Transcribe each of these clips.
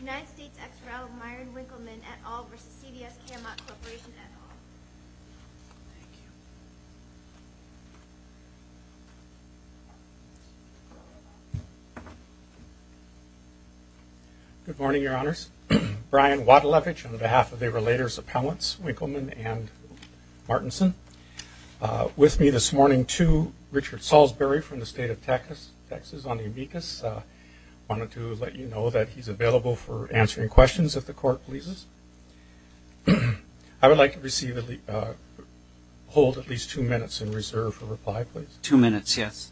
United States ex-rel Myron Winkelman, et al. v. CVS Caremark Corporation, et al. Good morning, your honors. Brian Wadalevich on behalf of the Relators Appellants, Winkelman and Martinson. With me this morning, too, Richard Salisbury from the state of Texas on the amicus. Wanted to let you know that he's available for answering questions if the court pleases. I would like to receive, hold at least two minutes in reserve for reply, please. Two minutes, yes.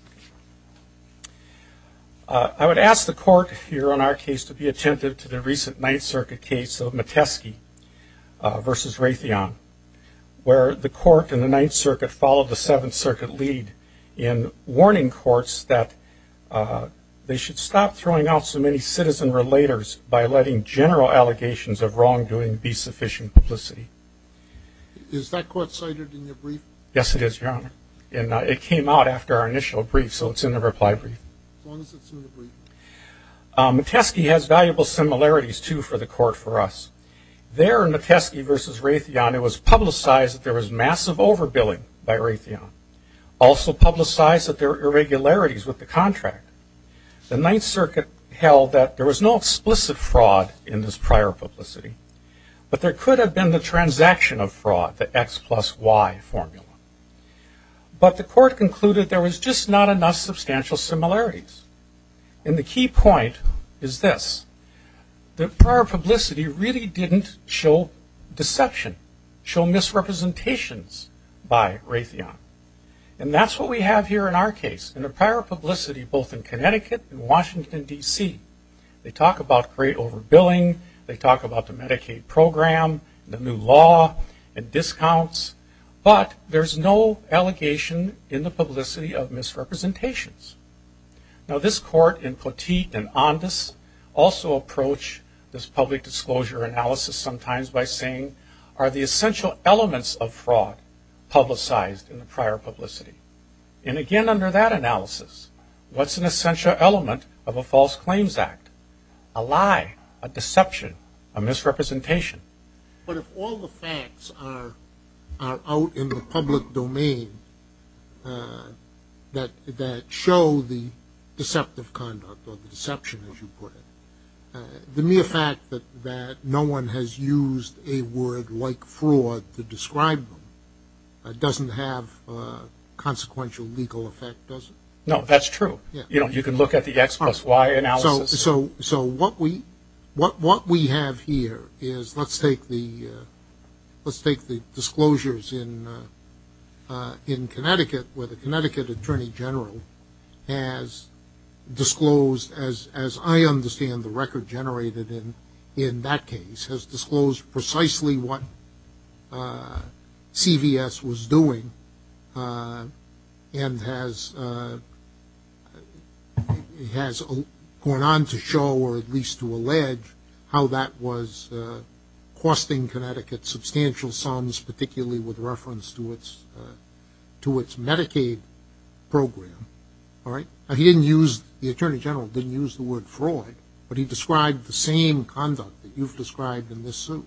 I would ask the court here on our case to be attentive to the recent Ninth Circuit case of Metesky v. Raytheon, where the court in the Ninth Circuit followed the Seventh Circuit lead in warning courts that they should stop throwing out so many citizen-relators by letting general allegations of wrongdoing be sufficient publicity. Is that court cited in your brief? Yes, it is, your honor. And it came out after our initial brief, so it's in the reply brief. As long as it's in the brief. Metesky has valuable similarities, too, for the court for us. There in Metesky v. Raytheon, it was publicized that there was massive overbilling by Raytheon. Also publicized that there were irregularities with the contract. The Ninth Circuit held that there was no explicit fraud in this prior publicity, but there could have been the transaction of fraud, the X plus Y formula. But the court concluded there was just not enough substantial similarities. And the key point is this. The prior publicity really didn't show deception, show misrepresentations by Raytheon. And that's what we have here in our case, in the prior publicity both in Connecticut and Washington, D.C. They talk about great overbilling. They talk about the Medicaid program, the new law, and discounts. But there's no allegation in the publicity of misrepresentations. Now this court in Poteet and Ondas also approach this public disclosure analysis sometimes by saying, are the essential elements of fraud publicized in the prior publicity? And again under that analysis, what's an essential element of a false claims act? A lie, a deception, a misrepresentation. But if all the facts are out in the public domain that show the deceptive conduct or the deception, as you put it, the mere fact that no one has used a word like fraud to describe them doesn't have consequential legal effect, does it? No, that's true. You can look at the X plus Y analysis. So what we have here is let's take the disclosures in Connecticut where the Connecticut attorney general has disclosed, as I understand the record generated in that case, has disclosed precisely what CVS was doing and has gone on to show or at least to allege how that was costing Connecticut substantial sums, particularly with reference to its Medicaid program. He didn't use, the attorney general didn't use the word fraud, but he described the same conduct that you've described in this suit.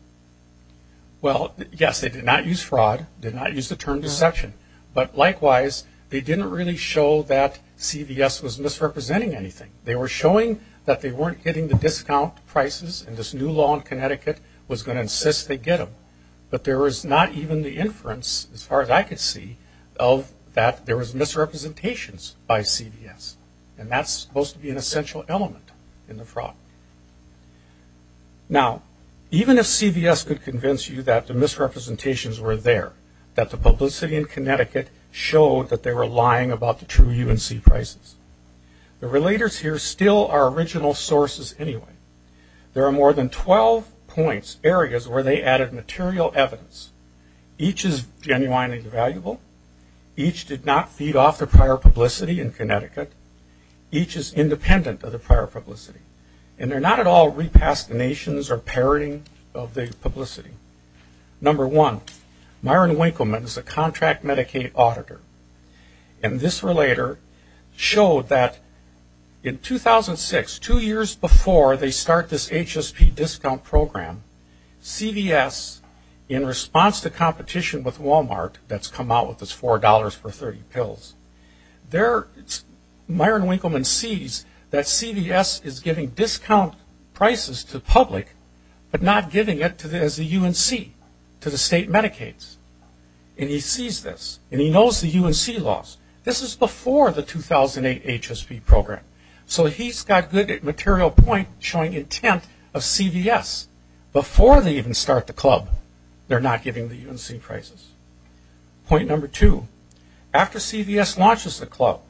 Well, yes, they did not use fraud, did not use the term deception. But likewise, they didn't really show that CVS was misrepresenting anything. They were showing that they weren't getting the discount prices and this new law in Connecticut was going to insist they get them. But there was not even the inference, as far as I could see, of that there was misrepresentations by CVS. And that's supposed to be an essential element in the fraud. Now, even if CVS could convince you that the misrepresentations were there, that the publicity in Connecticut showed that they were lying about the true UNC prices, the relators here still are original sources anyway. There are more than 12 points, areas where they added material evidence. Each is genuinely valuable. Each did not feed off the prior publicity in Connecticut. Each is independent of the prior publicity. And they're not at all re-pastinations or parroting of the publicity. Number one, Myron Winkleman is a contract Medicaid auditor. And this relator showed that in 2006, two years before they start this HSP discount program, CVS, in response to competition with Walmart that's come out with this $4 for 30 pills, Myron Winkleman sees that CVS is giving discount prices to the public, but not giving it as a UNC to the state Medicades. And he sees this. And he knows the UNC laws. This is before the 2008 HSP program. So he's got good material point showing intent of CVS. Before they even start the club, they're not giving the UNC prices. Point number two, after CVS launches the club,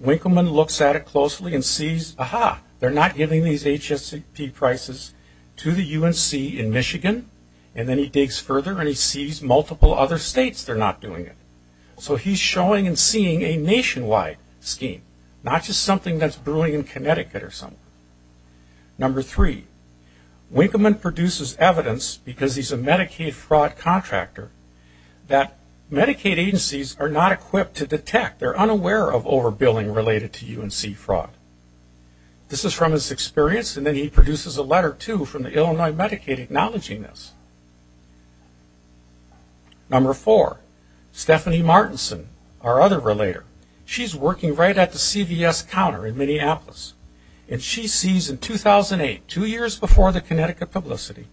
Winkleman looks at it closely and sees, aha, they're not giving these HSP prices to the UNC in Michigan. And then he digs further and he sees multiple other states they're not doing it. So he's showing and seeing a nationwide scheme, not just something that's brewing in Connecticut or somewhere. Number three, Winkleman produces evidence because he's a Medicaid fraud contractor that Medicaid agencies are not equipped to detect. They're unaware of overbilling related to UNC fraud. This is from his experience. And then he produces a letter, too, from the Illinois Medicaid acknowledging this. Number four, Stephanie Martinson, our other relator, she's working right at the CVS counter in Minneapolis. And she sees in 2008, two years before the Connecticut publicity,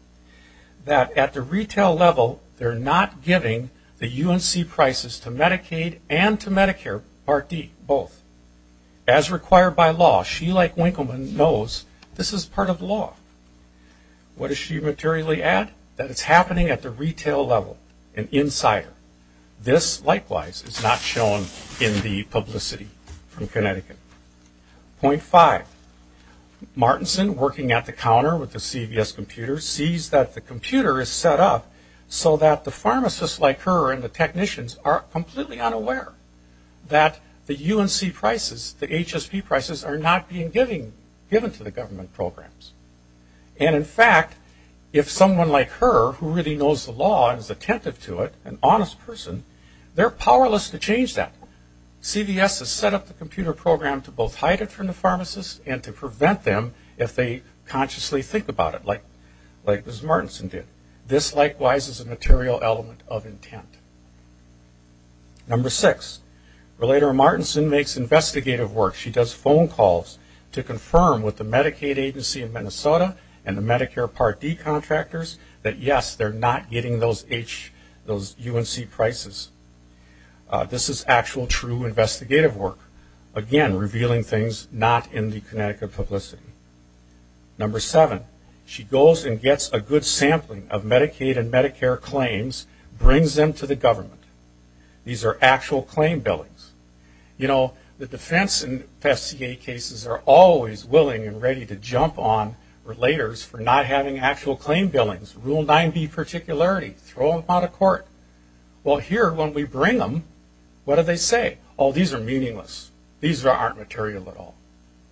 that at the retail level, they're not giving the UNC prices to Medicaid and to Medicare Part D, both. As required by law, she, like Winkleman, knows this is part of law. What does she materially add? That it's happening at the retail level, an insider. This, likewise, is not shown in the publicity from Connecticut. Point five, Martinson, working at the counter with the CVS computer, sees that the computer is set up so that the pharmacists like her and the technicians are completely unaware that the UNC prices, the HSP prices, are not being given to the government programs. And, in fact, if someone like her, who really knows the law and is attentive to it, an honest person, they're powerless to change that. CVS has set up the computer program to both hide it from the pharmacists and to prevent them if they consciously think about it, like Ms. Martinson did. This, likewise, is a material element of intent. Number six, Relator Martinson makes investigative work. She does phone calls to confirm with the Medicaid agency in Minnesota and the Medicare Part D contractors that, yes, they're not getting those UNC prices. This is actual, true investigative work. Again, revealing things not in the Connecticut publicity. Number seven, she goes and gets a good sampling of Medicaid and Medicare claims, brings them to the government. These are actual claim billings. You know, the defense and FCA cases are always willing and ready to jump on Relators for not having actual claim billings. Rule 9B particularity, throw them out of court. Well, here, when we bring them, what do they say? Oh, these are meaningless. These aren't material at all.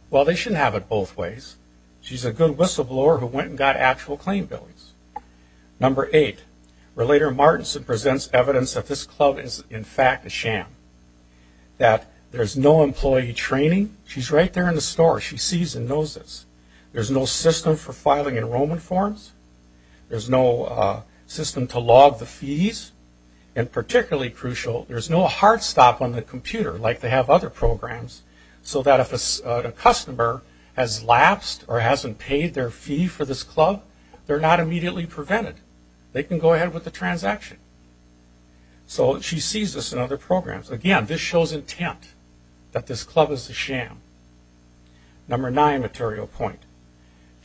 Well, they shouldn't have it both ways. She's a good whistleblower who went and got actual claim billings. Number eight, Relator Martinson presents evidence that this club is, in fact, a sham, that there's no employee training. She's right there in the store. She sees and knows this. There's no system for filing enrollment forms. There's no system to log the fees. And particularly crucial, there's no hard stop on the computer, like they have other programs, so that if a customer has lapsed or hasn't paid their fee for this club, they're not immediately prevented. They can go ahead with the transaction. So she sees this in other programs. Again, this shows intent that this club is a sham. Number nine material point.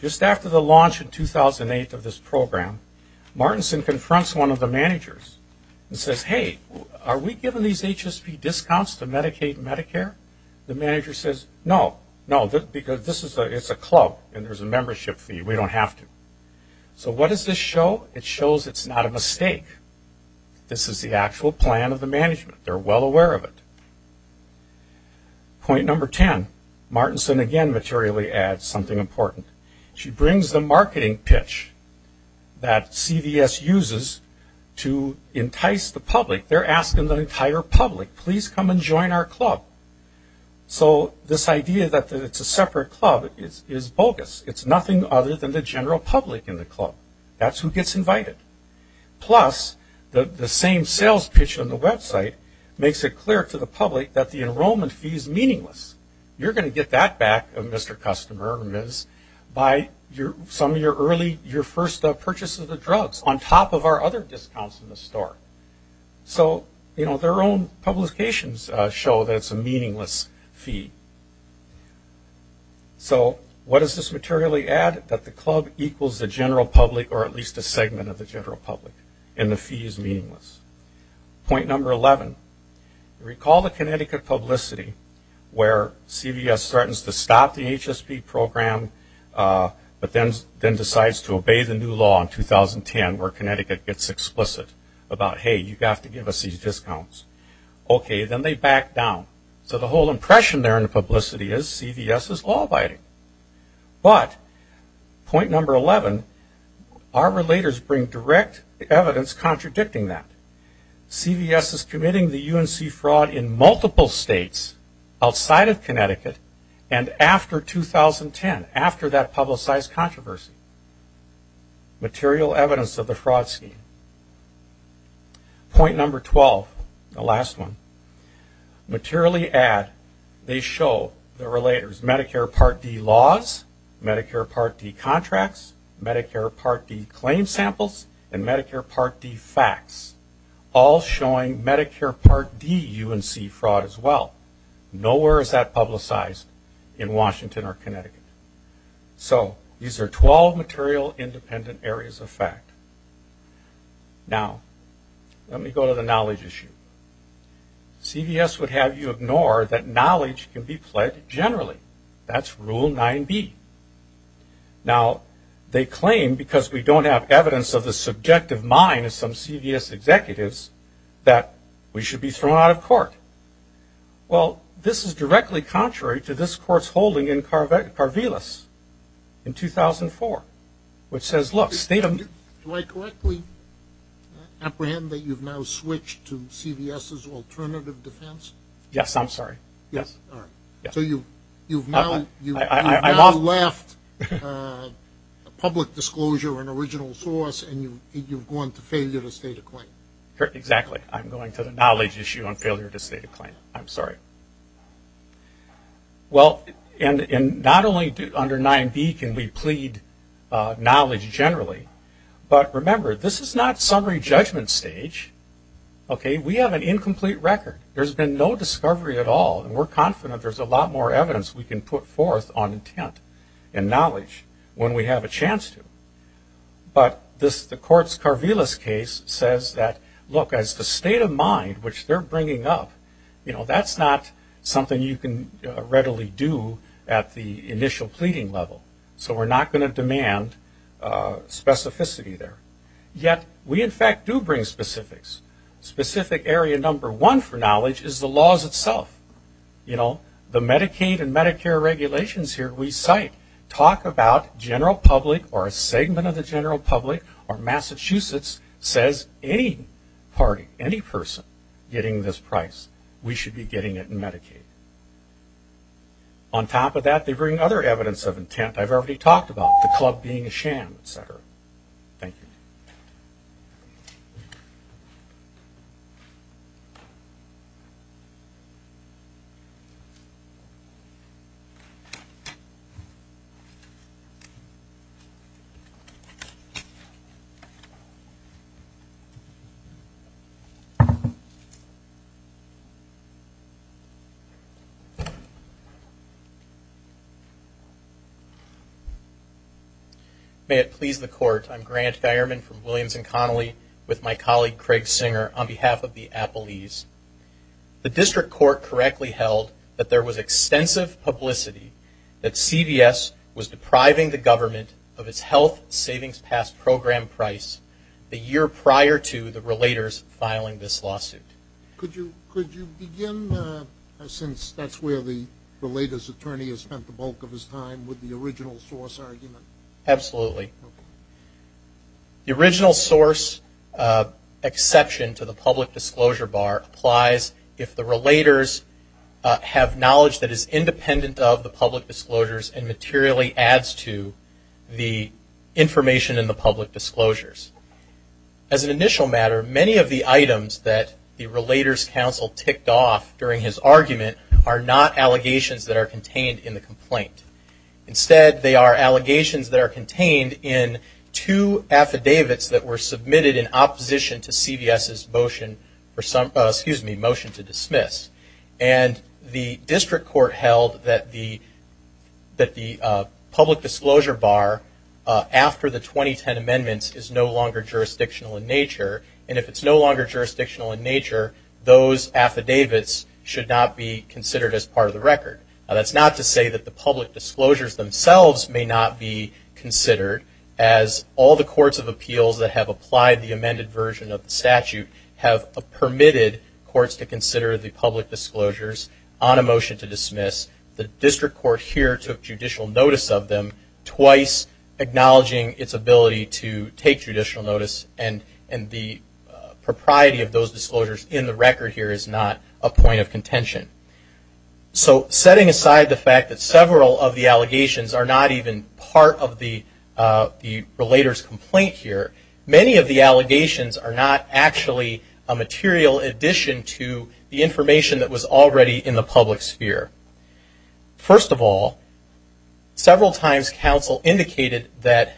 Just after the launch in 2008 of this program, Martinson confronts one of the managers and says, Hey, are we giving these HSP discounts to Medicaid and Medicare? The manager says, No, no, because this is a club and there's a membership fee. We don't have to. So what does this show? It shows it's not a mistake. This is the actual plan of the management. They're well aware of it. Point number ten. Martinson again materially adds something important. She brings the marketing pitch that CVS uses to entice the public. They're asking the entire public, Please come and join our club. So this idea that it's a separate club is bogus. It's nothing other than the general public in the club. That's who gets invited. Plus, the same sales pitch on the website makes it clear to the public that the enrollment fee is meaningless. You're going to get that back, Mr. Customer or Ms., by some of your first purchase of the drugs, on top of our other discounts in the store. So their own publications show that it's a meaningless fee. So what does this materially add? That the club equals the general public or at least a segment of the general public, and the fee is meaningless. Point number 11. Recall the Connecticut publicity where CVS starts to stop the HSP program but then decides to obey the new law in 2010 where Connecticut gets explicit about, Hey, you have to give us these discounts. Okay, then they back down. So the whole impression there in the publicity is CVS is law-abiding. But point number 11, our relators bring direct evidence contradicting that. CVS is committing the UNC fraud in multiple states outside of Connecticut and after 2010, after that publicized controversy. Material evidence of the fraud scheme. Point number 12, the last one. Materially add, they show the relators Medicare Part D laws, Medicare Part D contracts, Medicare Part D claim samples, and Medicare Part D facts. All showing Medicare Part D UNC fraud as well. Nowhere is that publicized in Washington or Connecticut. So these are 12 material independent areas of fact. Now, let me go to the knowledge issue. CVS would have you ignore that knowledge can be pledged generally. That's Rule 9B. Now, they claim, because we don't have evidence of the subjective mind of some CVS executives, that we should be thrown out of court. Well, this is directly contrary to this court's holding in Carvelas in 2004, which says, look, state them. Do I correctly apprehend that you've now switched to CVS's alternative defense? Yes, I'm sorry. Yes. All right. So you've now left a public disclosure, an original source, and you've gone to failure to state a claim. Exactly. I'm going to the knowledge issue on failure to state a claim. I'm sorry. Well, and not only under 9B can we plead knowledge generally, but remember, this is not summary judgment stage, okay? We have an incomplete record. There's been no discovery at all, and we're confident there's a lot more evidence we can put forth on intent and knowledge when we have a chance to. But the court's Carvelas case says that, look, as the state of mind, which they're bringing up, you know, that's not something you can readily do at the initial pleading level. So we're not going to demand specificity there. Yet we, in fact, do bring specifics. Specific area number one for knowledge is the laws itself. You know, the Medicaid and Medicare regulations here, we cite, talk about general public or a segment of the general public or Massachusetts says any party, any person getting this price, we should be getting it in Medicaid. On top of that, they bring other evidence of intent I've already talked about, the club being a sham, et cetera. Thank you. May it please the court, I'm Grant Geierman from Williams & Connolly with my colleague Craig Singer on behalf of the Appalese. The district court correctly held that there was extensive publicity that CVS was depriving the government of its health savings pass program price the year prior to the relators filing this lawsuit. Could you begin, since that's where the relator's attorney has spent the bulk of the argument? Absolutely. The original source exception to the public disclosure bar applies if the relators have knowledge that is independent of the public disclosures and materially adds to the information in the public disclosures. As an initial matter, many of the items that the relator's counsel ticked off during his argument are not allegations that are contained in the complaint. Instead, they are allegations that are contained in two affidavits that were submitted in opposition to CVS's motion to dismiss. And the district court held that the public disclosure bar after the 2010 amendments is no longer jurisdictional in nature. And if it's no longer jurisdictional in nature, those affidavits should not be considered as part of the record. That's not to say that the public disclosures themselves may not be considered as all the courts of appeals that have applied the amended version of the statute have permitted courts to consider the public disclosures on a motion to dismiss. The district court here took judicial notice of them, twice acknowledging its ability to take judicial notice. And the propriety of those disclosures in the record here is not a point of contention. So setting aside the fact that several of the allegations are not even part of the relator's complaint here, many of the allegations are not actually a material addition to the information that was already in the public sphere. First of all, several times counsel indicated that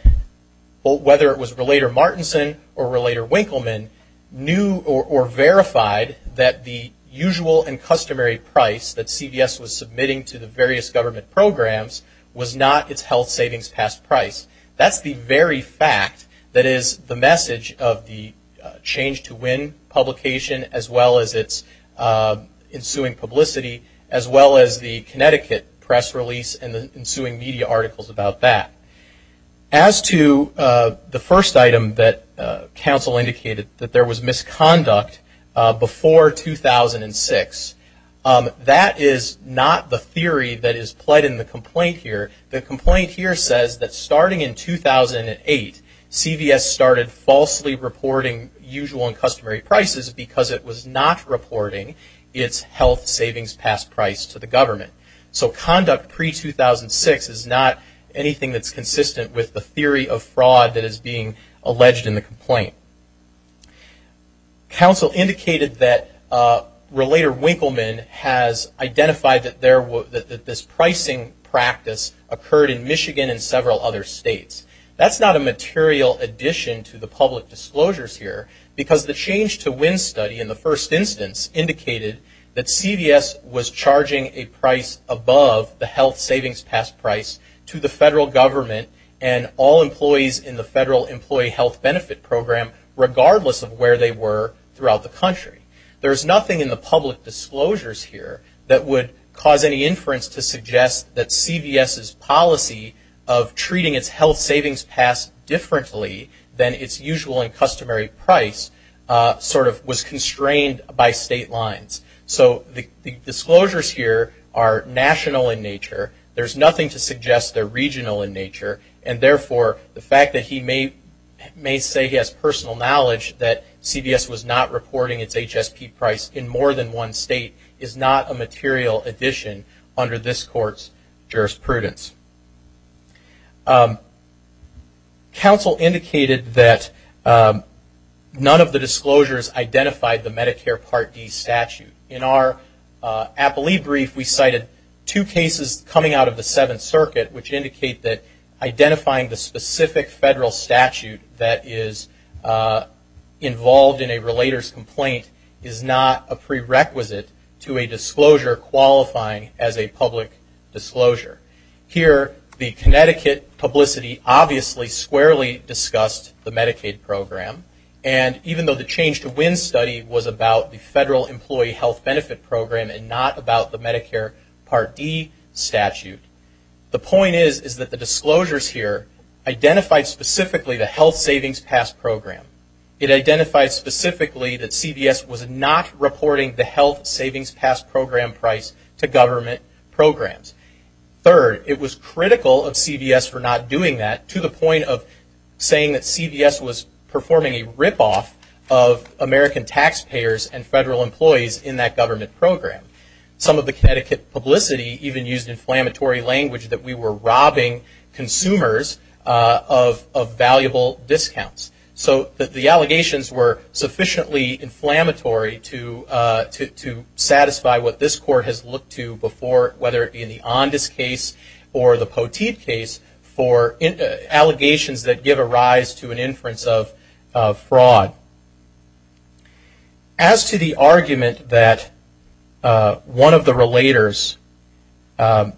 whether it was Relator Martinson or Relator Winkleman, knew or verified that the usual and customary price that CVS was submitting to the various government programs was not its health savings past price. That's the very fact that is the message of the Change to Win publication, as well as its ensuing publicity, as well as the Connecticut press release and the ensuing media articles about that. As to the first item that counsel indicated, that there was misconduct before 2006, that is not the theory that is pled in the complaint here. The complaint here says that starting in 2008, CVS started falsely reporting usual and customary prices because it was not reporting its health savings past price to the government. So conduct pre-2006 is not anything that's consistent with the theory of fraud that is being alleged in the complaint. Counsel indicated that Relator Winkleman has identified that this pricing practice occurred in Michigan and several other states. That's not a material addition to the public disclosures here, because the Change to Win study in the first instance indicated that CVS was charging a price above the health savings past price to the federal government and all employees in the Federal Employee Health Benefit Program, regardless of where they were throughout the country. There's nothing in the public disclosures here that would cause any inference to suggest that CVS's policy of treating its health savings past differently than its usual and customary price sort of was constrained by state lines. So the disclosures here are national in nature. There's nothing to suggest they're regional in nature, and therefore the fact that he may say he has personal knowledge that CVS was not reporting its HSP price in more than one state is not a material addition under this court's jurisprudence. Counsel indicated that none of the disclosures identified the Medicare Part D statute. In our appellee brief, we cited two cases coming out of the Seventh Circuit, which indicate that identifying the specific federal statute that is involved in a relator's complaint is not a prerequisite to a disclosure qualifying as a public disclosure. Here, the Connecticut publicity obviously squarely discussed the Medicaid program, and even though the Change to Win study was about the Federal Employee Health Benefit Program and not about the Medicare Part D statute, the point is that the disclosures here identified specifically the health savings past program. It identified specifically that CVS was not reporting the health savings past program price to government programs. Third, it was critical of CVS for not doing that, to the point of saying that CVS was performing a ripoff of American taxpayers and federal employees in that government program. Some of the Connecticut publicity even used inflammatory language that we were robbing consumers of valuable discounts. So the allegations were sufficiently inflammatory to satisfy what this court has looked to before, whether it be in the Ondas case or the Poteet case, for allegations that give a rise to an inference of fraud. Now, as to the argument that one of the relators has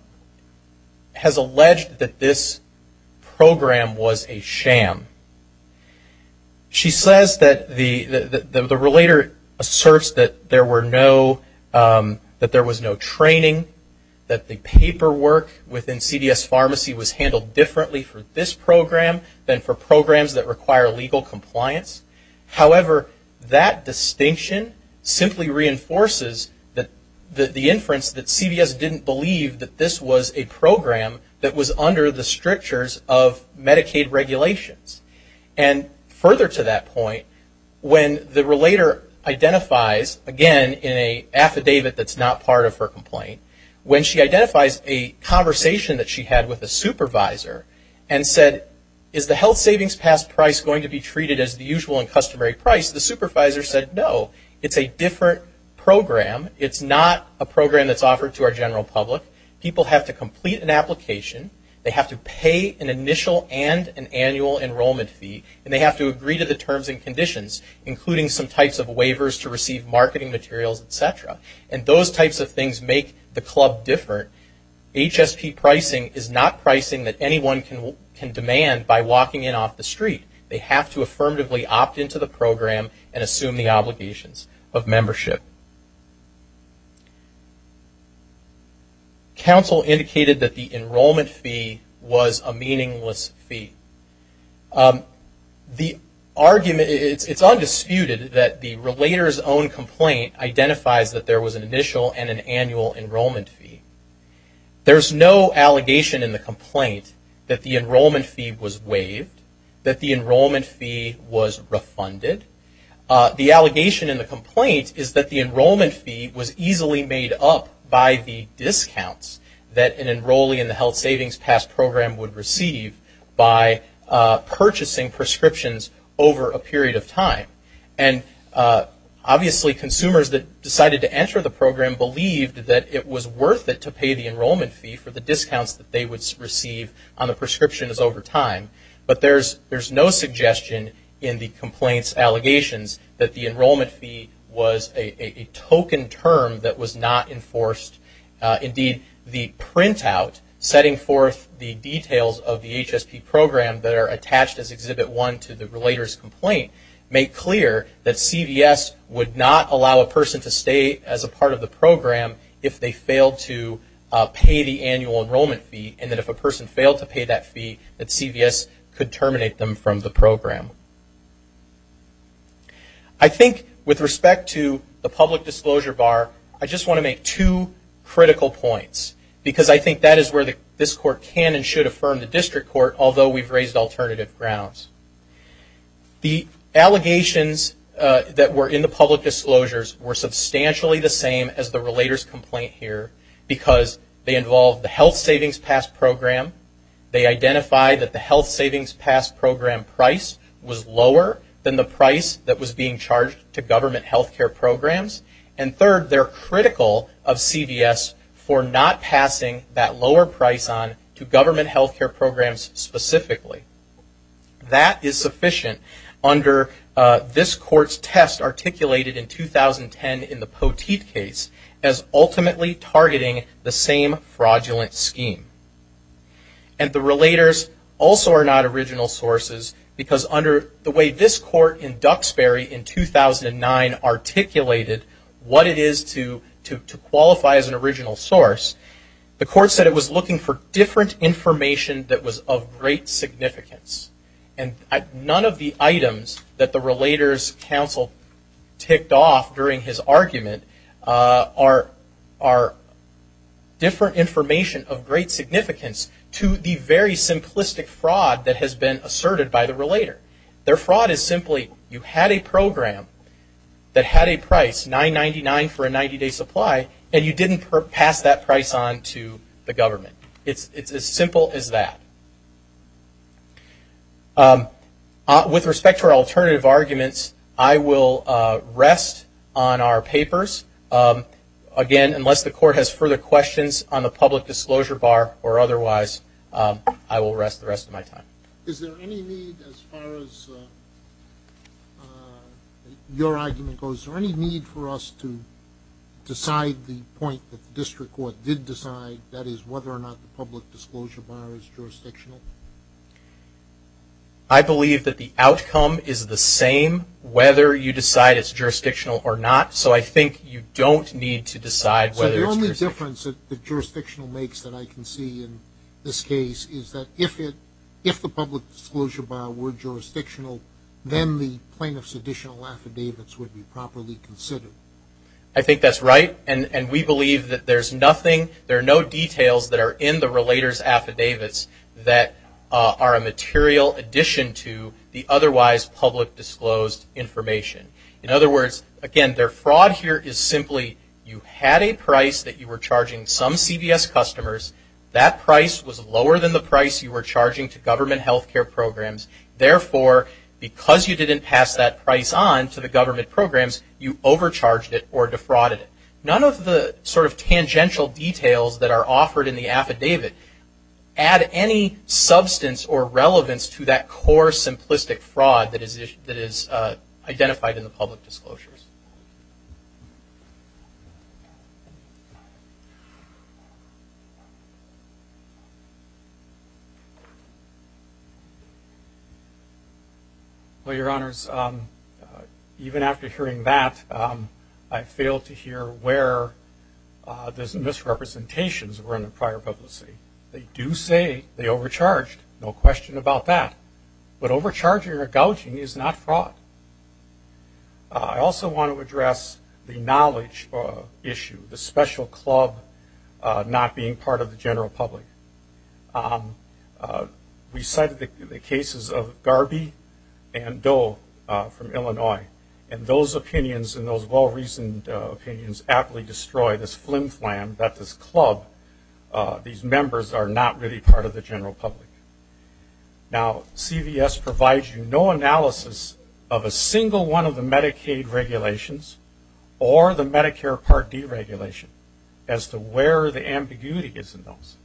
alleged that this program was a sham, she says that the relator asserts that there was no training, that the paperwork within CVS Pharmacy was handled differently for this However, that distinction simply reinforces the inference that CVS didn't believe that this was a program that was under the strictures of Medicaid regulations. And further to that point, when the relator identifies, again, in an affidavit that's not part of her complaint, when she identifies a conversation that she had with a supervisor and said, is the health savings pass price going to be treated as the usual and customary price, the supervisor said, no, it's a different program. It's not a program that's offered to our general public. People have to complete an application. They have to pay an initial and an annual enrollment fee. And they have to agree to the terms and conditions, including some types of waivers to receive marketing materials, et cetera. And those types of things make the club different. HSP pricing is not pricing that anyone can demand by walking in off the street. They have to affirmatively opt into the program and assume the obligations of membership. Counsel indicated that the enrollment fee was a meaningless fee. It's undisputed that the relator's own complaint identifies that there was an annual enrollment fee. There's no allegation in the complaint that the enrollment fee was waived, that the enrollment fee was refunded. The allegation in the complaint is that the enrollment fee was easily made up by the discounts that an enrollee in the health savings pass program would receive by purchasing prescriptions over a period of time. And obviously consumers that decided to enter the program believed that it was worth it to pay the enrollment fee for the discounts that they would receive on the prescriptions over time. But there's no suggestion in the complaint's allegations that the enrollment fee was a token term that was not enforced. Indeed, the printout setting forth the details of the HSP program that are clear that CVS would not allow a person to stay as a part of the program if they failed to pay the annual enrollment fee and that if a person failed to pay that fee that CVS could terminate them from the program. I think with respect to the public disclosure bar, I just want to make two critical points because I think that is where this court can and should affirm the district court, although we've raised alternative grounds. The allegations that were in the public disclosures were substantially the same as the relator's complaint here because they involved the health savings pass program, they identified that the health savings pass program price was lower than the price that was being charged to government health care programs, and third, they're critical of CVS for not passing that lower price on to government health care. I think that is sufficient under this court's test articulated in 2010 in the Poteet case as ultimately targeting the same fraudulent scheme. And the relators also are not original sources because under the way this court in Duxbury in 2009 articulated what it is to qualify as an original source, the court said it was looking for different information that was of great significance. And none of the items that the relator's counsel ticked off during his argument are different information of great significance to the very simplistic fraud that has been asserted by the relator. Their fraud is simply you had a program that had a price, $999 for a 90-day supply, and you didn't pass that price on to the government. It's as simple as that. With respect to our alternative arguments, I will rest on our papers. Again, unless the court has further questions on the public disclosure bar or otherwise, I will rest the rest of my time. Is there any need as far as your argument goes, is there any need for us to decide the point that the district court did decide, that is whether or not the public disclosure bar is jurisdictional? I believe that the outcome is the same whether you decide it's jurisdictional or not. So I think you don't need to decide whether it's jurisdictional. So the only difference that jurisdictional makes that I can see in this case is that if the public disclosure bar were jurisdictional, then the plaintiff's additional affidavits would be properly considered. I think that's right, and we believe that there's nothing, there are no details that are in the relator's affidavits that are a material addition to the otherwise public disclosed information. In other words, again, their fraud here is simply you had a price that you were charging to government health care programs, therefore, because you didn't pass that price on to the government programs, you overcharged it or defrauded it. None of the sort of tangential details that are offered in the affidavit add any substance or relevance to that core simplistic fraud that is identified in the affidavit. Well, Your Honors, even after hearing that, I failed to hear where those misrepresentations were in the prior publicity. They do say they overcharged, no question about that. But overcharging or gouging is not fraud. I also want to address the knowledge issue, the special club, not being part of the general public. We cited the cases of Garby and Doe from Illinois, and those opinions and those well-reasoned opinions aptly destroy this flim-flam that this club, these members, are not really part of the general public. Now, CVS provides you no analysis of a single one of the Medicaid regulations or the Medicare Part D regulation as to where the ambiguity is in those,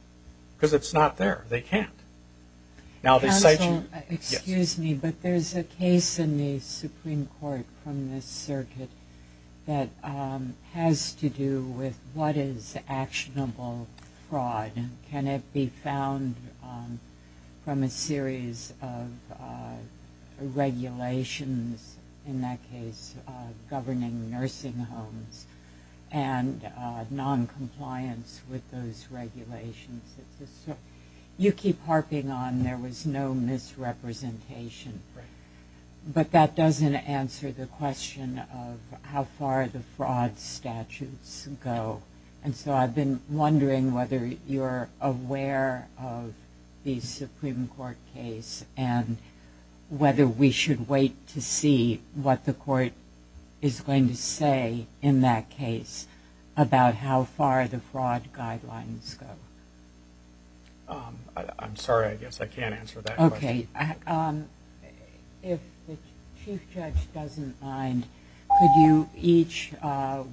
because it's not there. They can't. Now they cite you. Counsel, excuse me, but there's a case in the Supreme Court from this circuit that has to do with what is actionable fraud and can it be found from a series of regulations, in that case governing nursing homes and noncompliance with those regulations. You keep harping on there was no misrepresentation, but that doesn't answer the question of how far the fraud statutes go. And so I've been wondering whether you're aware of the Supreme Court case and whether we should wait to see what the court is going to say in that case about how far the fraud guidelines go. I'm sorry. I guess I can't answer that question. Okay. If the Chief Judge doesn't mind, could you each,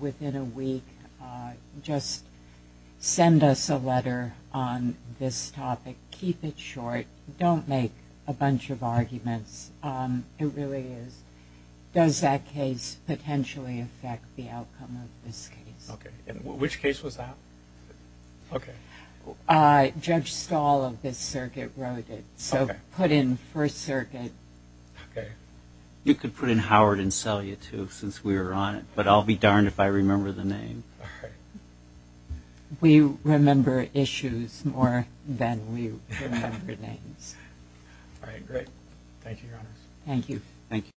within a week, just send us a letter on this topic. Keep it short. Don't make a bunch of arguments. It really is. Does that case potentially affect the outcome of this case? Okay. And which case was that? Okay. Judge Stahl of this circuit wrote it. Okay. So put in First Circuit. Okay. You could put in Howard and Selye, too, since we were on it, but I'll be darned if I remember the name. All right. We remember issues more than we remember names. All right. Thank you, Your Honors. Thank you.